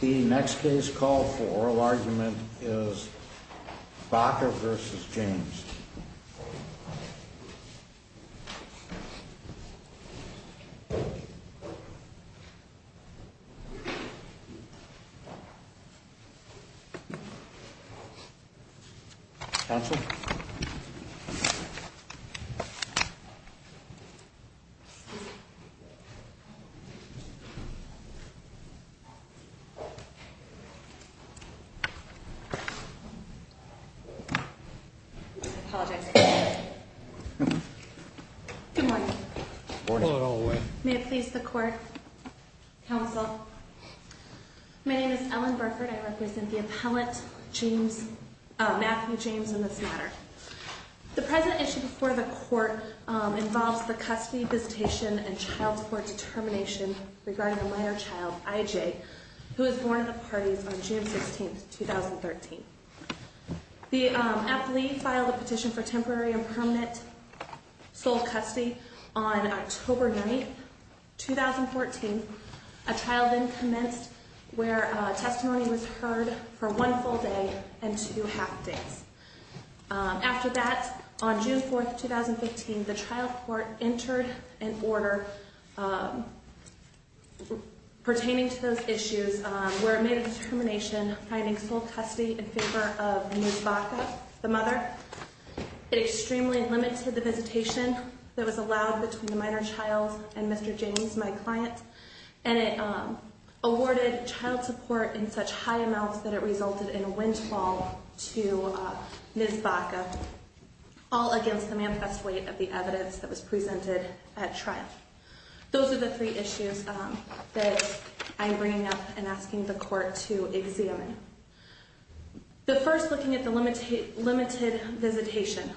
The next case called for oral argument is Baca v. James. Counsel? Good morning. May it please the court? Counsel? My name is Ellen Burford. I represent the appellate, Matthew James, in this matter. The present issue before the court involves the custody, visitation, and child support determination regarding a minor child, I.J., who was born in the parties on June 16, 2013. The appellee filed a petition for temporary and permanent sole custody on October 9, 2014. A trial then commenced where testimony was entered in order pertaining to those issues where it made a determination finding sole custody in favor of Ms. Baca, the mother. It extremely limited the visitation that was allowed between the minor child and Mr. James, my client, and it awarded child support in such high amounts that it resulted in a windfall to Ms. Baca, all against the manifest weight of the evidence that was presented at trial. Those are the three issues that I'm bringing up and asking the court to examine. The first, looking at the limited visitation.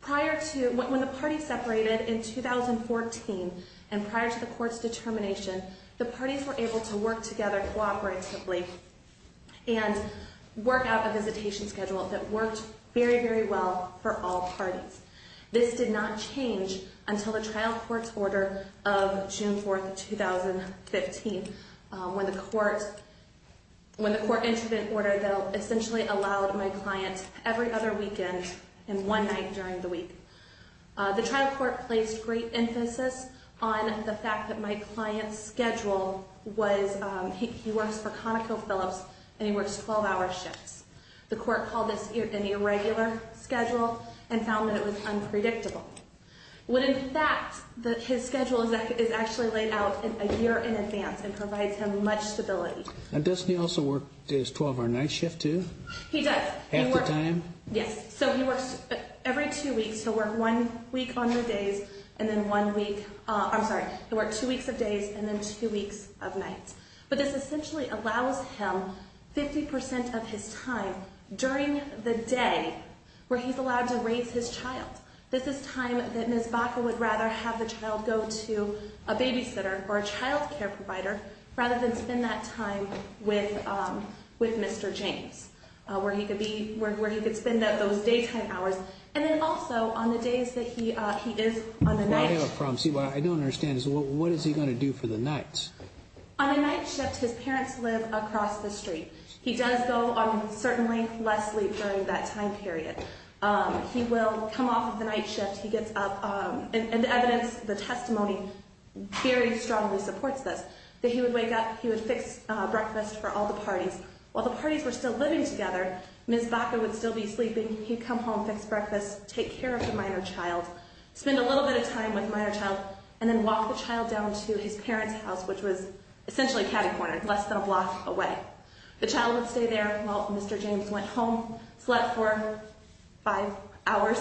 Prior to, when the parties separated in 2014 and prior to the court's determination, the parties were able to work together cooperatively and work out a visitation schedule that worked very, very well for all parties. This did not change until the trial court's order of June 4, 2015, when the court entered an order that essentially allowed my client every other weekend and one night during the week. The trial court placed great emphasis on the fact that my client's schedule was, he works for ConocoPhillips and he works 12-hour shifts. The court called this an irregular schedule and found that it was unpredictable. When in fact, his schedule is actually laid out a year in advance and provides him much stability. And doesn't he also work his 12-hour night shift too? He does. Half the time? Yes. So he works every two weeks. He'll work one week on the days and then one week, I'm two weeks of nights. But this essentially allows him 50% of his time during the day where he's allowed to raise his child. This is time that Ms. Baca would rather have the child go to a babysitter or a child care provider rather than spend that time with Mr. James, where he could spend those daytime hours. And then also on the days that he is on the night. I have a problem. I don't understand this. What is he going to do for the nights? On a night shift, his parents live across the street. He does go on certainly less sleep during that time period. He will come off of the night shift. He gets up and the evidence, the testimony very strongly supports this. That he would wake up, he would fix breakfast for all the parties. While the parties were still living together, Ms. Baca would still be sleeping. He'd come home, fix breakfast, take care of the minor child, spend a little bit of time with the minor child, and then walk the child down to his parents' house, which was essentially catty corner, less than a block away. The child would stay there while Mr. James went home, slept for five hours.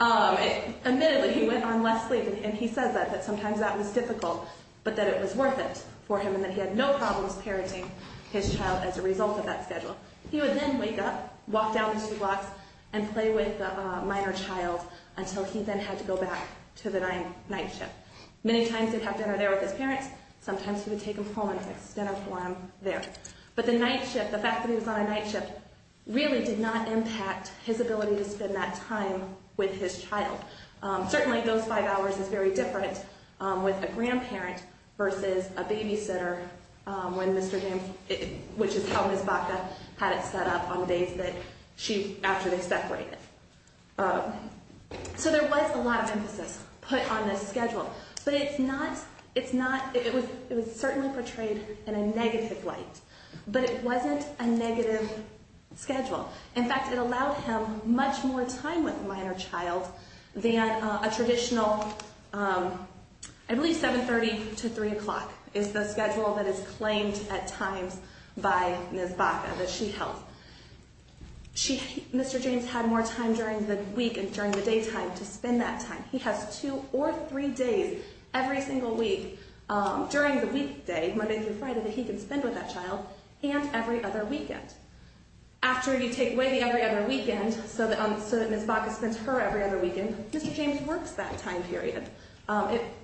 Admittedly, he went on less sleep. And he says that sometimes that was difficult, but that it was worth it for him and that he had no problems parenting his child as a result of that schedule. He would then wake up, walk down the two blocks, and play with the minor child until he then had to go back to the night shift. Many times he'd have dinner there with his parents. Sometimes he would take them home and fix dinner for them there. But the night shift, the fact that he was on a night shift, really did not impact his ability to spend that time with his child. Certainly those five hours is very different with a grandparent versus a babysitter when Mr. James, which is how Ms. Baca had it set up on days after they separated. So there was a lot of emphasis put on this schedule. But it's not, it's not, it was certainly portrayed in a negative light. But it wasn't a negative schedule. In fact, it allowed him much more time with the minor child than a traditional, I believe 7.30 to 8.00 at times by Ms. Baca that she held. Mr. James had more time during the week and during the daytime to spend that time. He has two or three days every single week during the weekday, Monday through Friday, that he can spend with that child and every other weekend. After you take away the every other weekend so that Ms. Baca spends her every other weekend, Mr. James works that time period.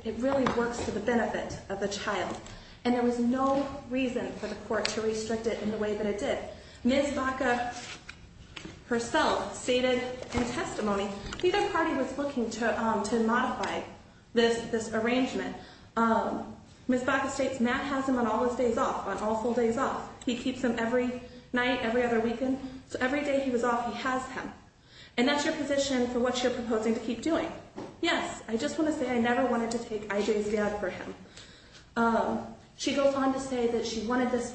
It really works to the benefit of the child. And there was no reason for the court to restrict it in the way that it did. Ms. Baca herself stated in testimony, neither party was looking to modify this arrangement. Ms. Baca states Matt has him on all his days off, on all full days off. He keeps him every night, every other weekend. So every day he was off, he has him. And that's your position for what you're proposing to keep doing. Yes, I just want to say I never wanted to take I.J.'s dad for him. She goes on to say that she wanted this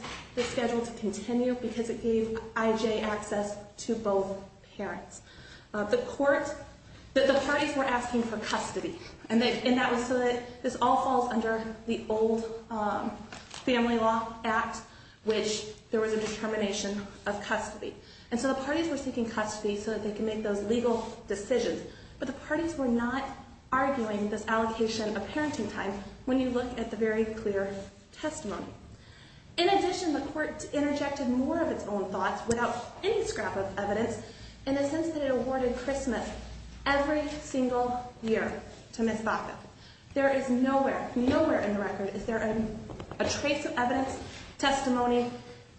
schedule to continue because it gave I.J. access to both parents. The court, the parties were asking for custody. And that was so that this all falls under the old family law act, which there was a determination of custody. And so the parties were seeking custody so that they could make those legal decisions. But the parties were not arguing this allocation of parenting time when you look at the very clear testimony. In addition, the court interjected more of its own thoughts without any scrap of evidence in the sense that it awarded Christmas every single year to Ms. Baca. There is nowhere, nowhere in the record is there a trace of evidence, testimony,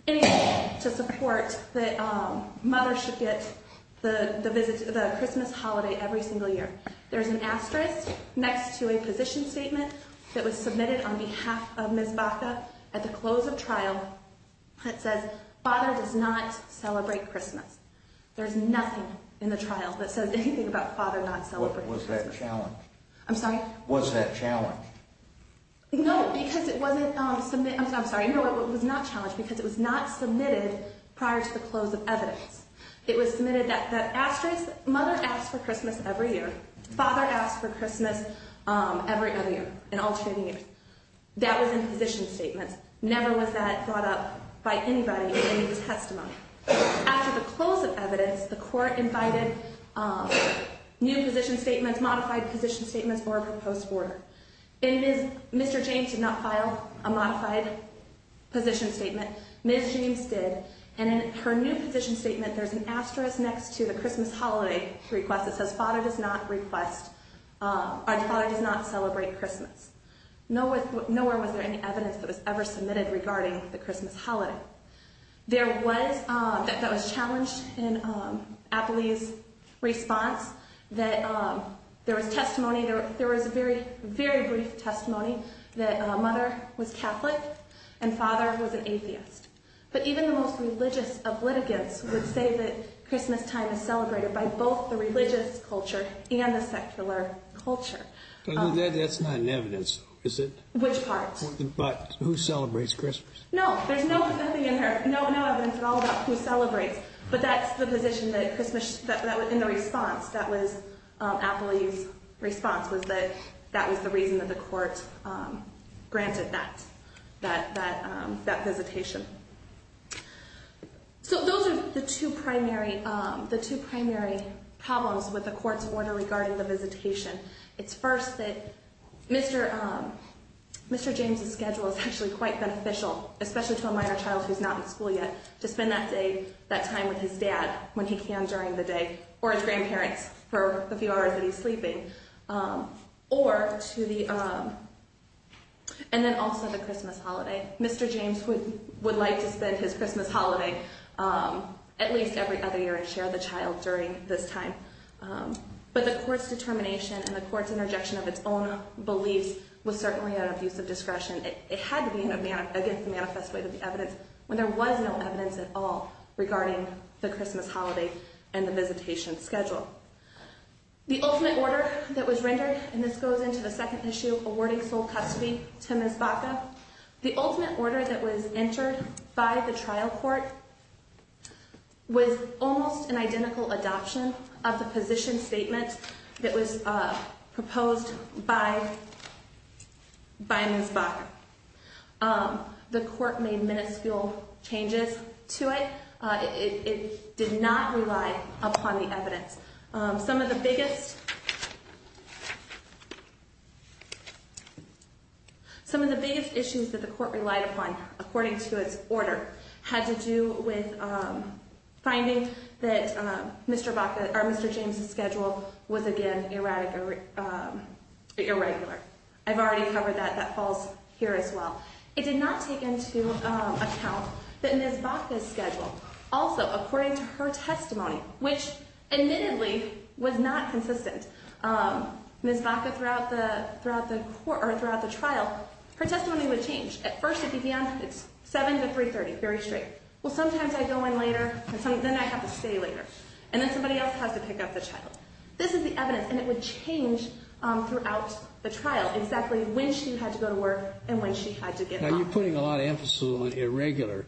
anything to support that mother should get the Christmas holiday every single year. There's an asterisk next to a position statement that was submitted on behalf of Ms. Baca at the close of trial that says father does not celebrate Christmas. There's nothing in the trial that says anything about father not celebrating Christmas. Was that challenged? I'm sorry? Was that challenged? No, because it wasn't submitted. I'm sorry. No, it was not challenged because it was not submitted at the close of evidence. It was submitted that the asterisk, mother asked for Christmas every year, father asked for Christmas every other year in alternating years. That was in position statements. Never was that brought up by anybody in the testimony. After the close of evidence, the court invited new position statements, modified position statements, or a proposed order. And Mr. James did not file a modified position statement. Ms. James did. And in her new position statement, there's an asterisk next to the Christmas holiday request that says father does not request, or father does not celebrate Christmas. Nowhere was there any evidence that was ever submitted regarding the Christmas holiday. There was, that was challenged in Apley's response that there was testimony, there was a very, very brief testimony that mother was Catholic and father was an atheist. But even the most religious of litigants would say that Christmas time is celebrated by both the religious culture and the secular culture. That's not in evidence, is it? Which part? But who celebrates Christmas? No, there's nothing in there, no evidence at all about who celebrates. But that's the position that Christmas, in the response, that was Apley's response, was that that was the reason that the court granted that visitation. So those are the two primary problems with the court's order regarding the visitation. It's first that Mr. James' schedule is actually quite beneficial, especially to a minor child who's not in school yet, to spend that day, that time with his dad when he can during the day, or his grandparents for the few hours that he's sleeping, or to the, and then also the Christmas holiday. Mr. James would like to spend his Christmas holiday at least every other year and share the child during this time. But the court's determination and the court's interjection of its own beliefs was certainly an abuse of discretion. It had to be against the manifest way of the evidence when there was no evidence at all regarding the Christmas holiday and the visitation schedule. The ultimate order that was rendered, and this goes into the second issue, awarding sole custody to Ms. Baca, the ultimate order that was entered by the trial court was almost an identical adoption of the position statement that was proposed by Ms. Baca. The court made miniscule changes to it. It did not rely upon the evidence. Some of the biggest issues that the court relied upon, according to its order, had to do with finding that Mr. James' schedule was again irregular. I've already covered that. That falls here as well. It did not take into account that Ms. Baca's schedule. Also, according to her testimony, which admittedly was not consistent, Ms. Baca throughout the trial, her testimony would change. At first it began, it's 7 to 3.30, very straight. Well, sometimes I go in later, then I have to stay later, and then somebody else has to pick up the child. This is the evidence, and it would change throughout the trial exactly when she had to go to work and when she had to get off. Now you're putting a lot of emphasis on irregular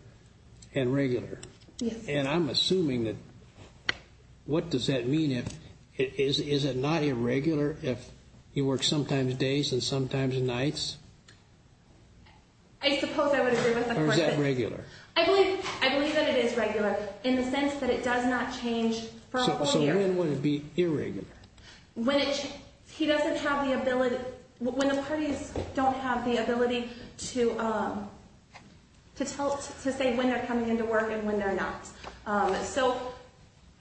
and regular. Yes. And I'm assuming that, what does that mean if, is it not irregular if he works sometimes days and sometimes nights? I suppose I would agree with that. Or is that regular? I believe that it is regular in the sense that it does not change for a whole year. So when would it be irregular? He doesn't have the ability, when the parties don't have the ability to say when they're coming into work and when they're not. So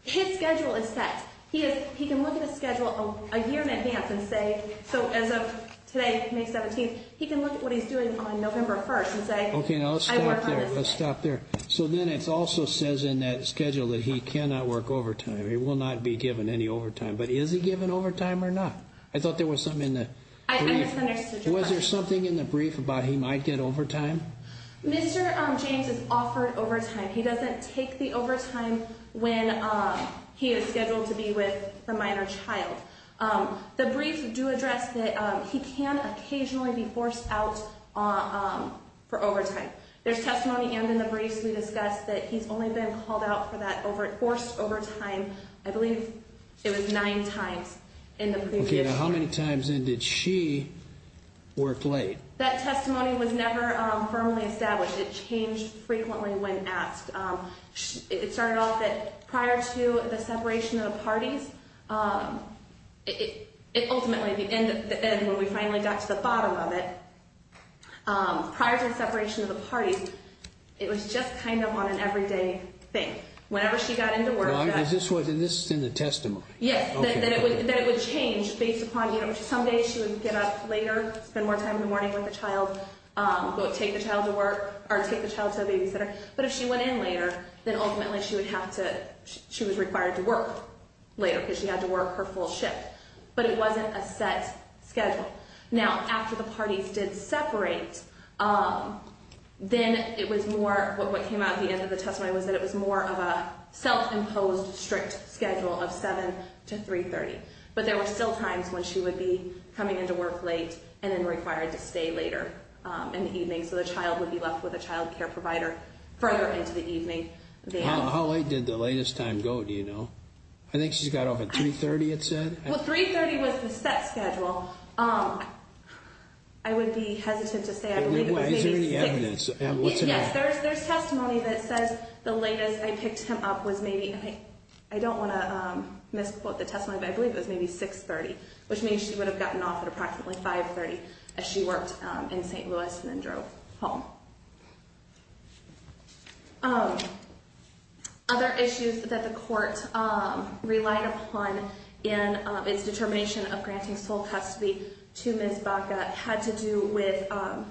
his schedule is set. He can look at his schedule a year in advance and say, so as of today, May 17th, he can look at what he's doing on November 1st and say, I work on this day. Okay, now let's stop there. So then it also says in that schedule that he cannot work overtime, but is he given overtime or not? I thought there was something in the brief. I misunderstood your question. Was there something in the brief about he might get overtime? Mr. James is offered overtime. He doesn't take the overtime when he is scheduled to be with the minor child. The briefs do address that he can occasionally be forced out for overtime. There's testimony and in the briefs we discussed that he's only been called out for that, forced overtime, I believe it was nine times in the brief. Okay, now how many times in did she work late? That testimony was never firmly established. It changed frequently when asked. It started off that prior to the separation of the parties, it ultimately, the end when we finally got to the bottom of it, prior to the separation of the parties, it was just kind of on an everyday thing. Whenever she got into work... Is this in the testimony? Yes, that it would change based upon, someday she would get up later, spend more time in the morning with the child, take the child to babysitter. But if she went in later, then ultimately she would have to, she was required to work later because she had to work her full shift. But it wasn't a set schedule. Now, after the parties did separate, then it was more, what came out at the end of the testimony was that it was more of a self-imposed strict schedule of 7 to 3.30. But there were still times when she would be coming into work late and then required to stay later in the evening. So the child would be left with a child care provider further into the evening. How late did the latest time go, do you know? I think she got off at 3.30 it said? Well, 3.30 was the set schedule. I would be hesitant to say... Is there any evidence? Yes, there's testimony that says the latest I picked him up was maybe, I don't want to misquote the testimony, but I believe it was maybe 6.30, which means she would have gotten off at approximately 5.30 as she worked in St. Louis and then drove home. Other issues that the court relied upon in its determination of granting sole custody to Ms. Baca had to do with some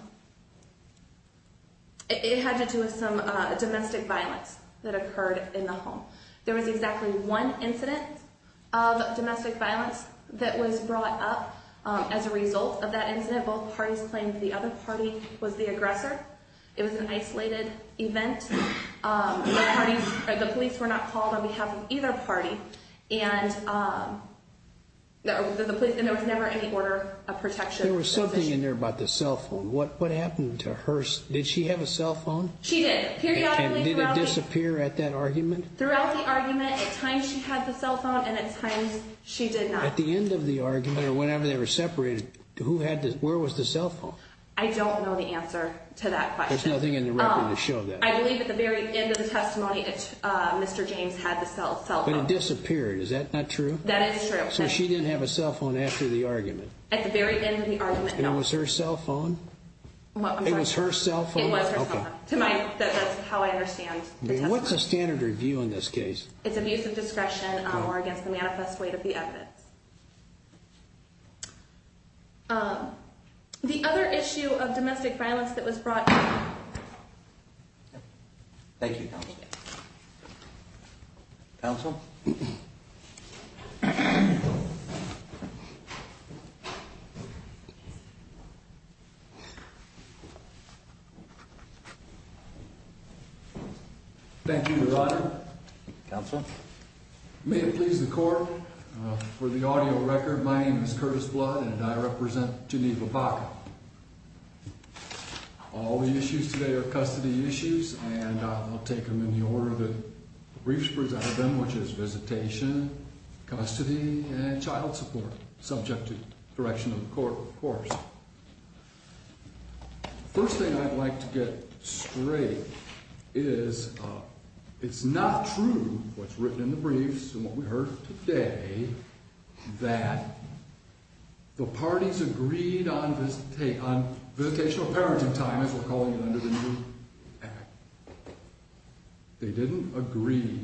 domestic violence that occurred in the home. There was exactly one incident of domestic violence that was brought up as a result of that incident. Both parties claimed the other party was the aggressor. It was an isolated event. The police were not called on behalf of either party and there was never any order of protection. There was something in there about the cell phone. What happened to her? Did she have a cell phone? She did. Did it disappear at that argument? Throughout the argument, at times she had the cell phone and at times she did not. At the end of the argument or whenever they were separated, where was the cell phone? I don't know the answer to that question. There's nothing in the record to show that. I believe at the very end of the testimony, Mr. James had the cell phone. But it disappeared. Is that not true? That is true. So she didn't have a cell phone after the argument? At the very end of the argument, no. And it was her cell phone? It was her cell phone. It was her cell phone. That's how I understand the testimony. What's the standard review in this case? It's abuse of discretion or against the manifest weight of the evidence. The other issue of domestic violence that was brought up... Thank you, Counsel. Thank you, Your Honor. Counsel? May it please the Court, for the audio record, my name is Curtis Blood and I represent Geneva, Baca. All the issues today are custody issues and I'll take them in the order that the briefs present them, which is visitation, custody, and child support, subject to the direction of the Court, of course. First thing I'd like to get straight is it's not true, what's written in the briefs and what we heard today, that the parties agreed on visitational parenting time, as we're calling it under the new act. They didn't agree.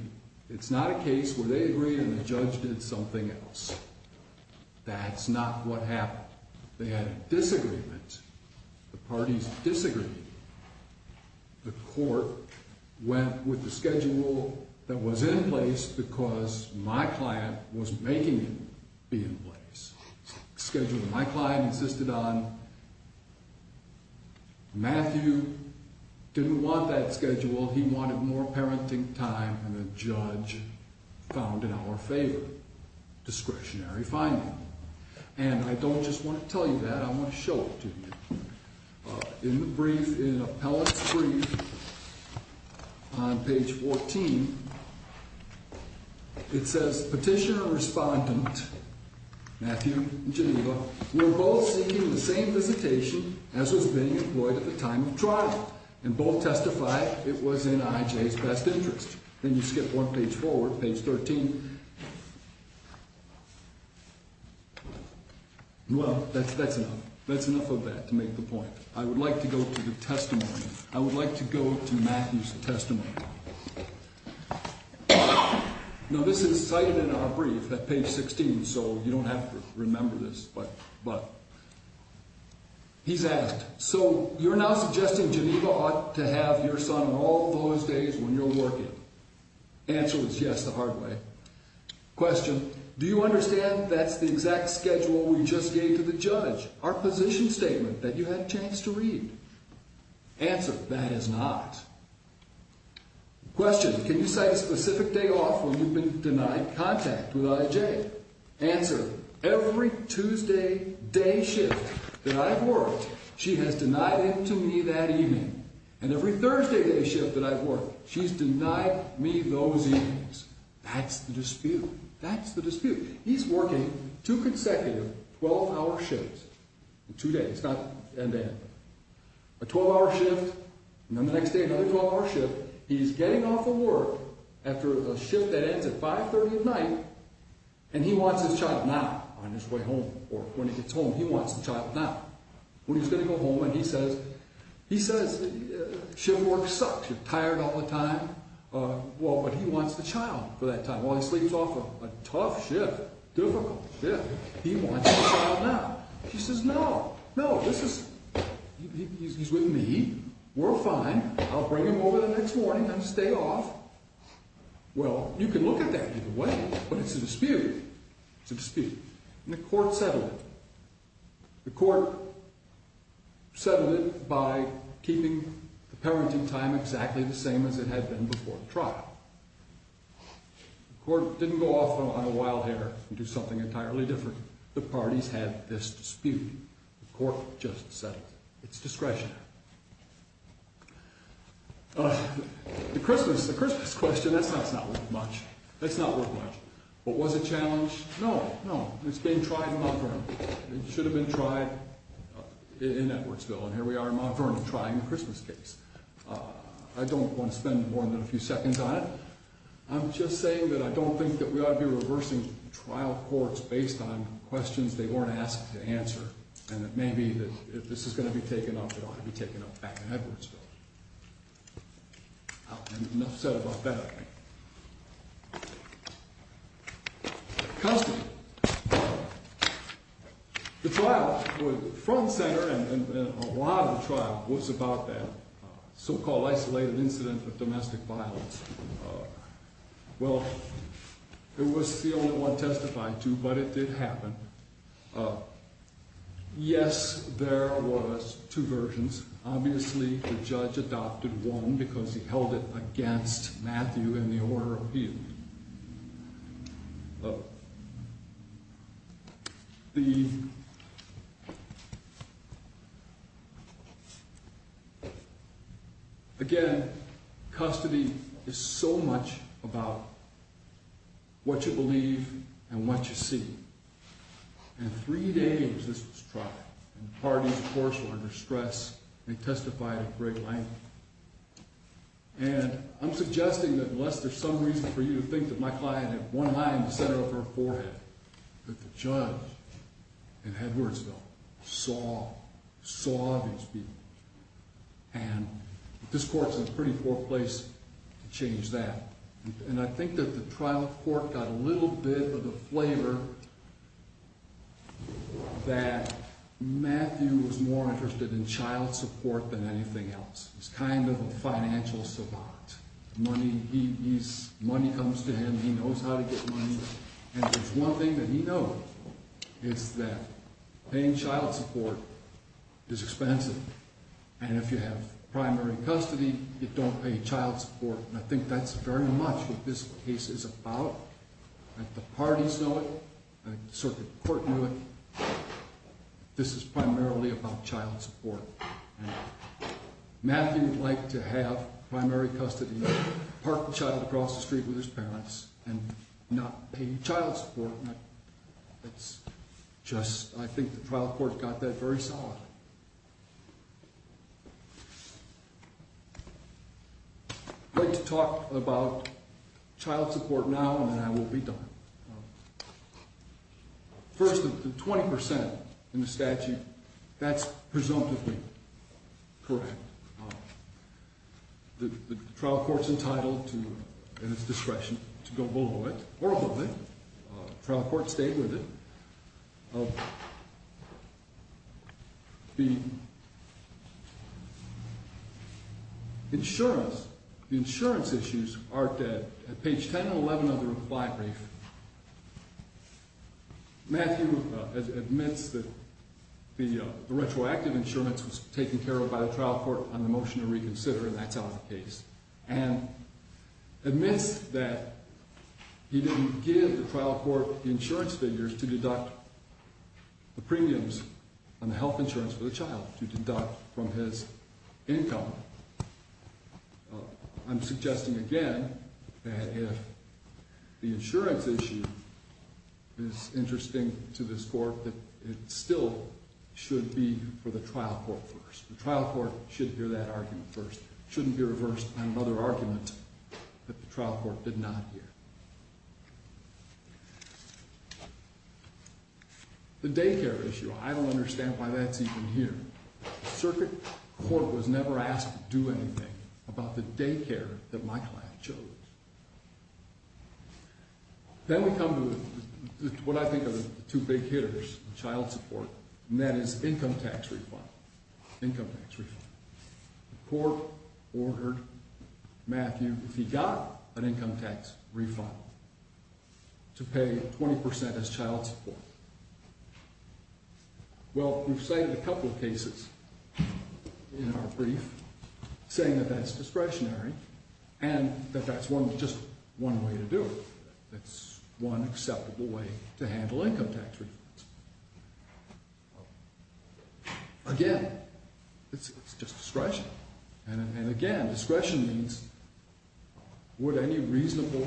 It's not a case where they agreed and the judge did something else. That's not what happened. They had a disagreement. The parties disagreed. The Court went with the schedule that was in place because my client was making it be in place. Schedule that my client insisted on. Matthew didn't want that schedule. He wanted more parenting time than the judge found in our favor. Discretionary finding. And I don't just want to tell you that, I want to show it to you. In the brief, in Appellant's brief, on page 14, it says, Petitioner and Respondent, Matthew and Geneva, were both seeking the same visitation as was being employed at the time of trial and both testified it was in IJ's best interest. Then you skip one page forward, page 13. Well, that's enough. That's enough of that to make the point. I would like to go to the testimony. I would like to go to Matthew's testimony. Now this is cited in our brief at page 16, so you don't have to remember this, but he's asked, So you're now suggesting Geneva ought to have your son on all those days when you're working? Answer was yes the hard way. Question, do you understand that's the exact schedule we just gave to the judge, our position statement, that you had a chance to read? Answer, that is not. Question, can you cite a specific day off when you've been denied contact with IJ? Answer, every Tuesday day shift that I've worked, she has denied him to me that evening. And every Thursday day shift that I've worked, she's denied me those evenings. That's the dispute. That's the dispute. He's working two consecutive 12-hour shifts in two days. A 12-hour shift, and then the next day another 12-hour shift. He's getting off of work after a shift that ends at 530 at night, and he wants his child now on his way home. Or when he gets home, he wants the child now. When he's going to go home and he says, he says shift work sucks, you're tired all the time. Well, but he wants the child for that time. While he sleeps off a tough shift, difficult shift, he wants his child now. She says, no, no, this is, he's with me. We're fine. I'll bring him over the next morning. I'm going to stay off. Well, you can look at that either way, but it's a dispute. It's a dispute. And the court settled it. The court settled it by keeping the parenting time exactly the same as it had been before the trial. The court didn't go off on a wild hair and do something entirely different. The parties had this dispute. The court just settled it. It's discretionary. The Christmas, the Christmas question, that's not worth much. That's not worth much. But was it challenged? No, no. It's been tried in Mount Vernon. It should have been tried in Edwardsville, and here we are in Mount Vernon trying the Christmas case. I don't want to spend more than a few seconds on it. I'm just saying that I don't think that we ought to be reversing trial courts based on questions they weren't asked to answer. And it may be that if this is going to be taken up, it ought to be taken up back in Edwardsville. Enough said about that. Custody. The trial, the front center and a lot of the trial was about that so-called isolated incident of domestic violence. Well, it was the only one testified to, but it did happen. Yes, there was two versions. Obviously, the judge adopted one because he held it against Matthew in the order of appeal. Again, custody is so much about what you believe and what you see. And three days this was tried, and the parties, of course, were under stress. They testified at great length. And I'm suggesting that unless there's some reason for you to think that my client had one eye in the center of her forehead, that the judge in Edwardsville saw, saw these people. And this court's in a pretty poor place to change that. And I think that the trial court got a little bit of a flavor that Matthew was more interested in child support than anything else. He's kind of a financial savant. Money comes to him. He knows how to get money. And if there's one thing that he knows, it's that paying child support is expensive. And if you have primary custody, you don't pay child support. And I think that's very much what this case is about. The parties know it. The circuit court knew it. This is primarily about child support. And Matthew would like to have primary custody, park the child across the street with his parents, and not pay child support. It's just, I think the trial court got that very solidly. I'd like to talk about child support now, and then I will be done. First, the 20% in the statute, that's presumptively correct. The trial court's entitled to, at its discretion, to go below it, or above it. The trial court stayed with it. The insurance issues are at page 10 and 11 of the reply brief. Matthew admits that the retroactive insurance was taken care of by the trial court on the motion to reconsider, and that's out of the case. And admits that he didn't give the trial court the insurance figures to deduct the premiums on the health insurance for the child, to deduct from his income. I'm suggesting again that if the insurance issue is interesting to this court, that it still should be for the trial court first. The trial court should hear that argument first. It shouldn't be reversed by another argument that the trial court did not hear. The daycare issue, I don't understand why that's even here. Circuit court was never asked to do anything about the daycare that my client chose. Then we come to what I think are the two big hitters in child support, and that is income tax refund, income tax refund. The court ordered Matthew, if he got an income tax refund, to pay 20% as child support. Well, we've cited a couple of cases in our brief saying that that's discretionary, and that that's just one way to do it. That's one acceptable way to handle income tax refunds. Again, it's just discretion. And again, discretion means would any reasonable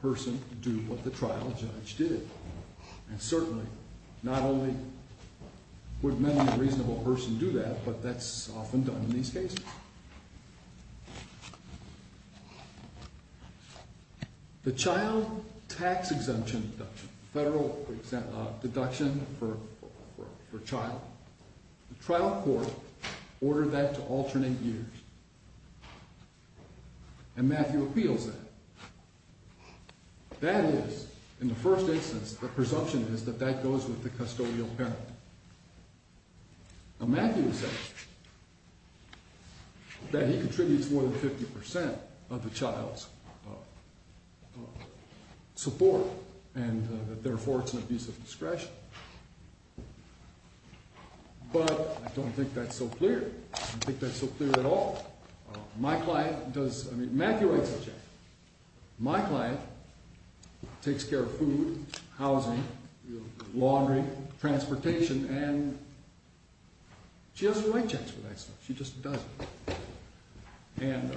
person do what the trial judge did? And certainly, not only would many reasonable person do that, but that's often done in these cases. The child tax exemption deduction, federal deduction for child, the trial court ordered that to alternate years. And Matthew appeals that. That is, in the first instance, the presumption is that that goes with the custodial penalty. Now Matthew says that he contributes more than 50% of the child's support, and therefore it's an abuse of discretion. But I don't think that's so clear. I don't think that's so clear at all. My client does, I mean, Matthew writes the check. My client takes care of food, housing, laundry, transportation, and she doesn't write checks for that stuff. She just doesn't. And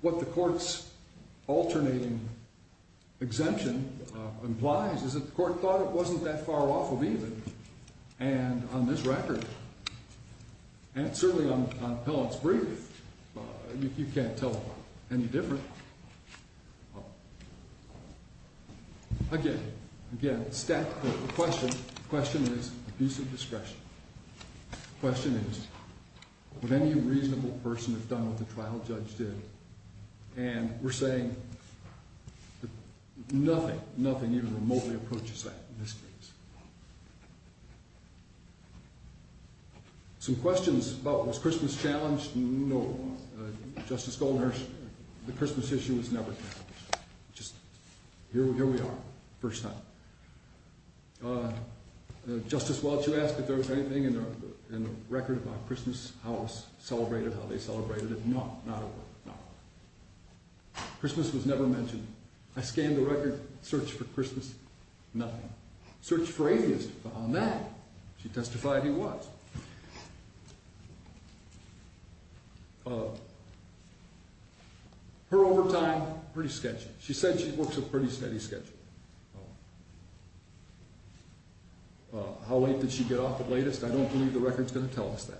what the court's alternating exemption implies is that the court thought it wasn't that far off of even. And on this record, and certainly on Appellant's brief, you can't tell any different. Again, again, the question is abuse of discretion. The question is would any reasonable person have done what the trial judge did? And we're saying nothing, nothing even remotely approaches that in this case. Some questions about was Christmas challenged? No. Justice Goldner, the Christmas issue was never challenged. Just here we are, first time. Justice Welch, you asked if there was anything in the record about Christmas, how it was celebrated, how they celebrated it. No, not at all, no. Christmas was never mentioned. I scanned the record, searched for Christmas, nothing. Searched for alias on that. She testified he was. Her overtime, pretty sketchy. She said she works a pretty steady schedule. How late did she get off at latest? I don't believe the record's going to tell us that.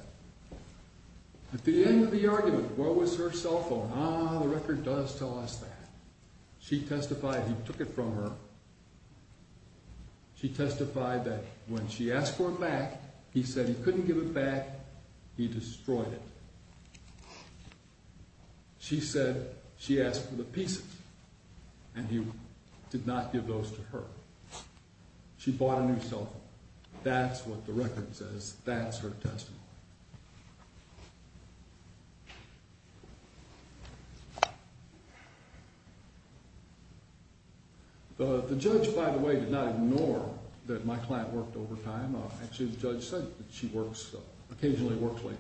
At the end of the argument, where was her cell phone? Ah, the record does tell us that. She testified he took it from her. She testified that when she asked for it back, he said he couldn't give it back, he destroyed it. She said she asked for the pieces, and he did not give those to her. She bought a new cell phone. That's what the record says. That's her testimony. The judge, by the way, did not ignore that my client worked overtime. Actually, the judge said that she occasionally works late.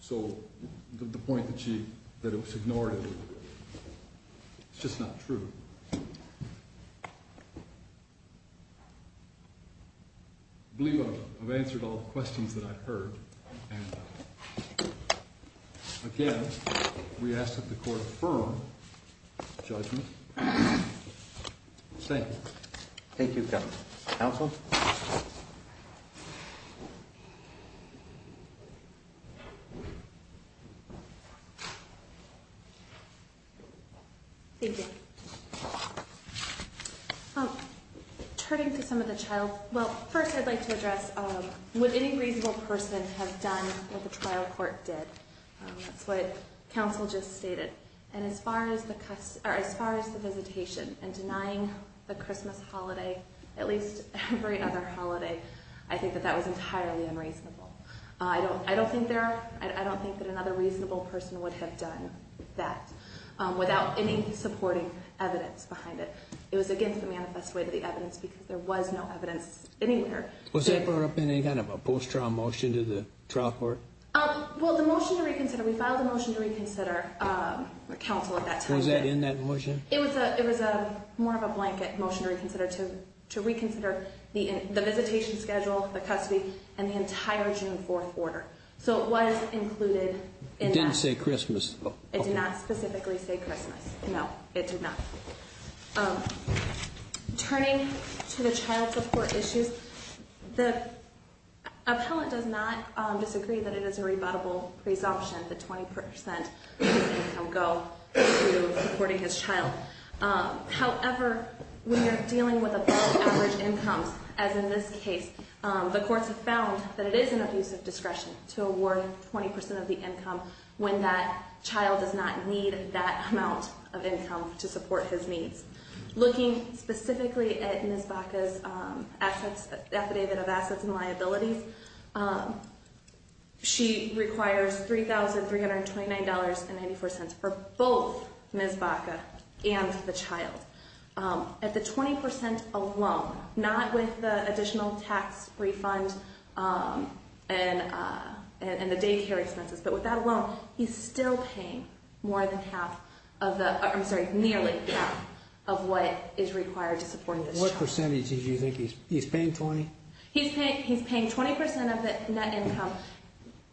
So, the point that it was ignored, it's just not true. I've answered all the questions that I've heard, and again, we ask that the court affirm judgment. Thank you. Thank you, counsel. Thank you. Turning to some of the trial, well, first I'd like to address would any reasonable person have done what the trial court did? That's what counsel just stated. And as far as the visitation and denying the Christmas holiday, at least every other holiday, I think that that was entirely unreasonable. I don't think that another reasonable person would have done that without any supporting evidence behind it. It was against the manifest way to the evidence because there was no evidence anywhere. Was that brought up in any kind of a post-trial motion to the trial court? Well, the motion to reconsider, we filed a motion to reconsider counsel at that time. Was that in that motion? It was more of a blanket motion to reconsider the visitation schedule, the custody, and the entire June 4th order. So, it was included in that. It didn't say Christmas. It did not specifically say Christmas. No, it did not. Turning to the child support issues, the appellant does not disagree that it is a rebuttable presumption that 20% of his income go to supporting his child. However, when you're dealing with above average incomes, as in this case, the courts have found that it is an abusive discretion to award 20% of the income when that child does not need that amount of income to support his needs. Looking specifically at Ms. Baca's affidavit of assets and liabilities, she requires $3,329.94 for both Ms. Baca and the child. At the 20% alone, not with the additional tax refund and the daycare expenses, but with that alone, he's still paying nearly half of what is required to support his child. What percentage do you think he's paying? 20? He's paying 20% of the net income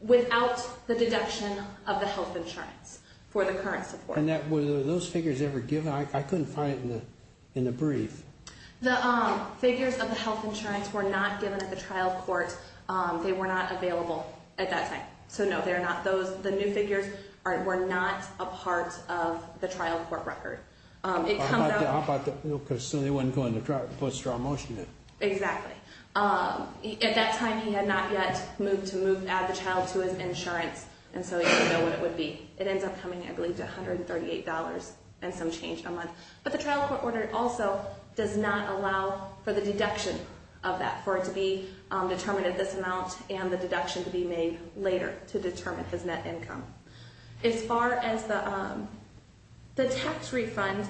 without the deduction of the health insurance for the current support. Were those figures ever given? I couldn't find it in the brief. The figures of the health insurance were not given at the trial court. They were not available at that time. So no, the new figures were not a part of the trial court record. So they weren't going to put a strong motion in. Exactly. At that time, he had not yet moved to add the child to his insurance, and so he didn't know what it would be. It ends up coming, I believe, to $138 and some change a month. But the trial court order also does not allow for the deduction of that, for it to be determined at this amount and the deduction to be made later to determine his net income. As far as the tax refund,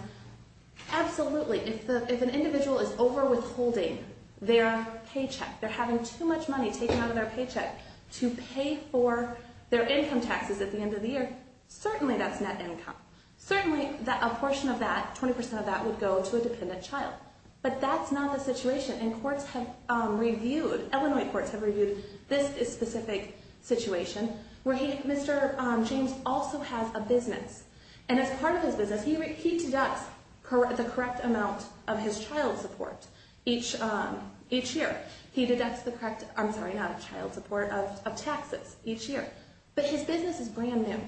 absolutely. If an individual is overwithholding their paycheck, they're having too much money taken out of their paycheck to pay for their income taxes at the end of the year, certainly that's net income. Certainly, a portion of that, 20% of that, would go to a dependent child. But that's not the situation, and courts have reviewed, Illinois courts have reviewed this specific situation where Mr. James also has a business. And as part of his business, he deducts the correct amount of his child support each year. He deducts the correct, I'm sorry, not child support, of taxes each year. But his business is brand new,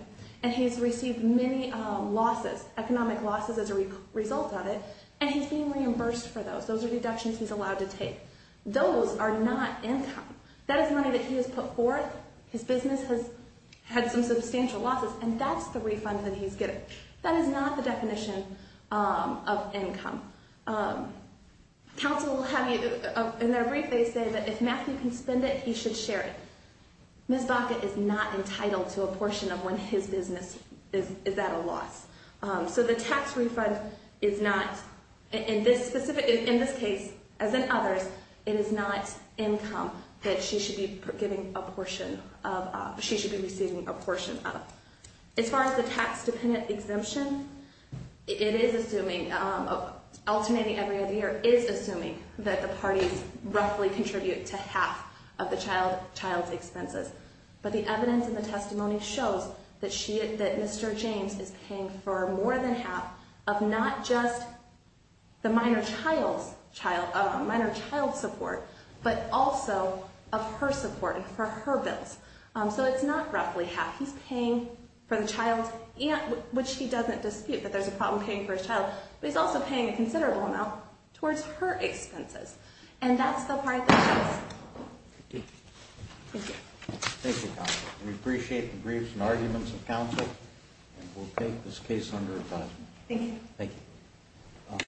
and he's received many losses, economic losses as a result of it, and he's being reimbursed for those. Those are deductions he's allowed to take. Those are not income. That is money that he has put forth. His business has had some substantial losses, and that's the refund that he's getting. That is not the definition of income. Council will have you, in their brief, they say that if Matthew can spend it, he should share it. Ms. Baca is not entitled to a portion of when his business is at a loss. So the tax refund is not, in this specific, in this case, as in others, it is not income that she should be giving a portion of, she should be receiving a portion of. As far as the tax-dependent exemption, it is assuming, alternating every other year, it is assuming that the parties roughly contribute to half of the child's expenses. But the evidence in the testimony shows that Mr. James is paying for more than half of not just the minor child's child, minor child support, but also of her support and for her bills. So it's not roughly half. He's paying for the child's, which he doesn't dispute that there's a problem paying for his child, but he's also paying a considerable amount towards her expenses. And that's the part that shows. Thank you. Thank you, counsel. We appreciate the briefs and arguments of counsel, and we'll take this case under advisement. Thank you.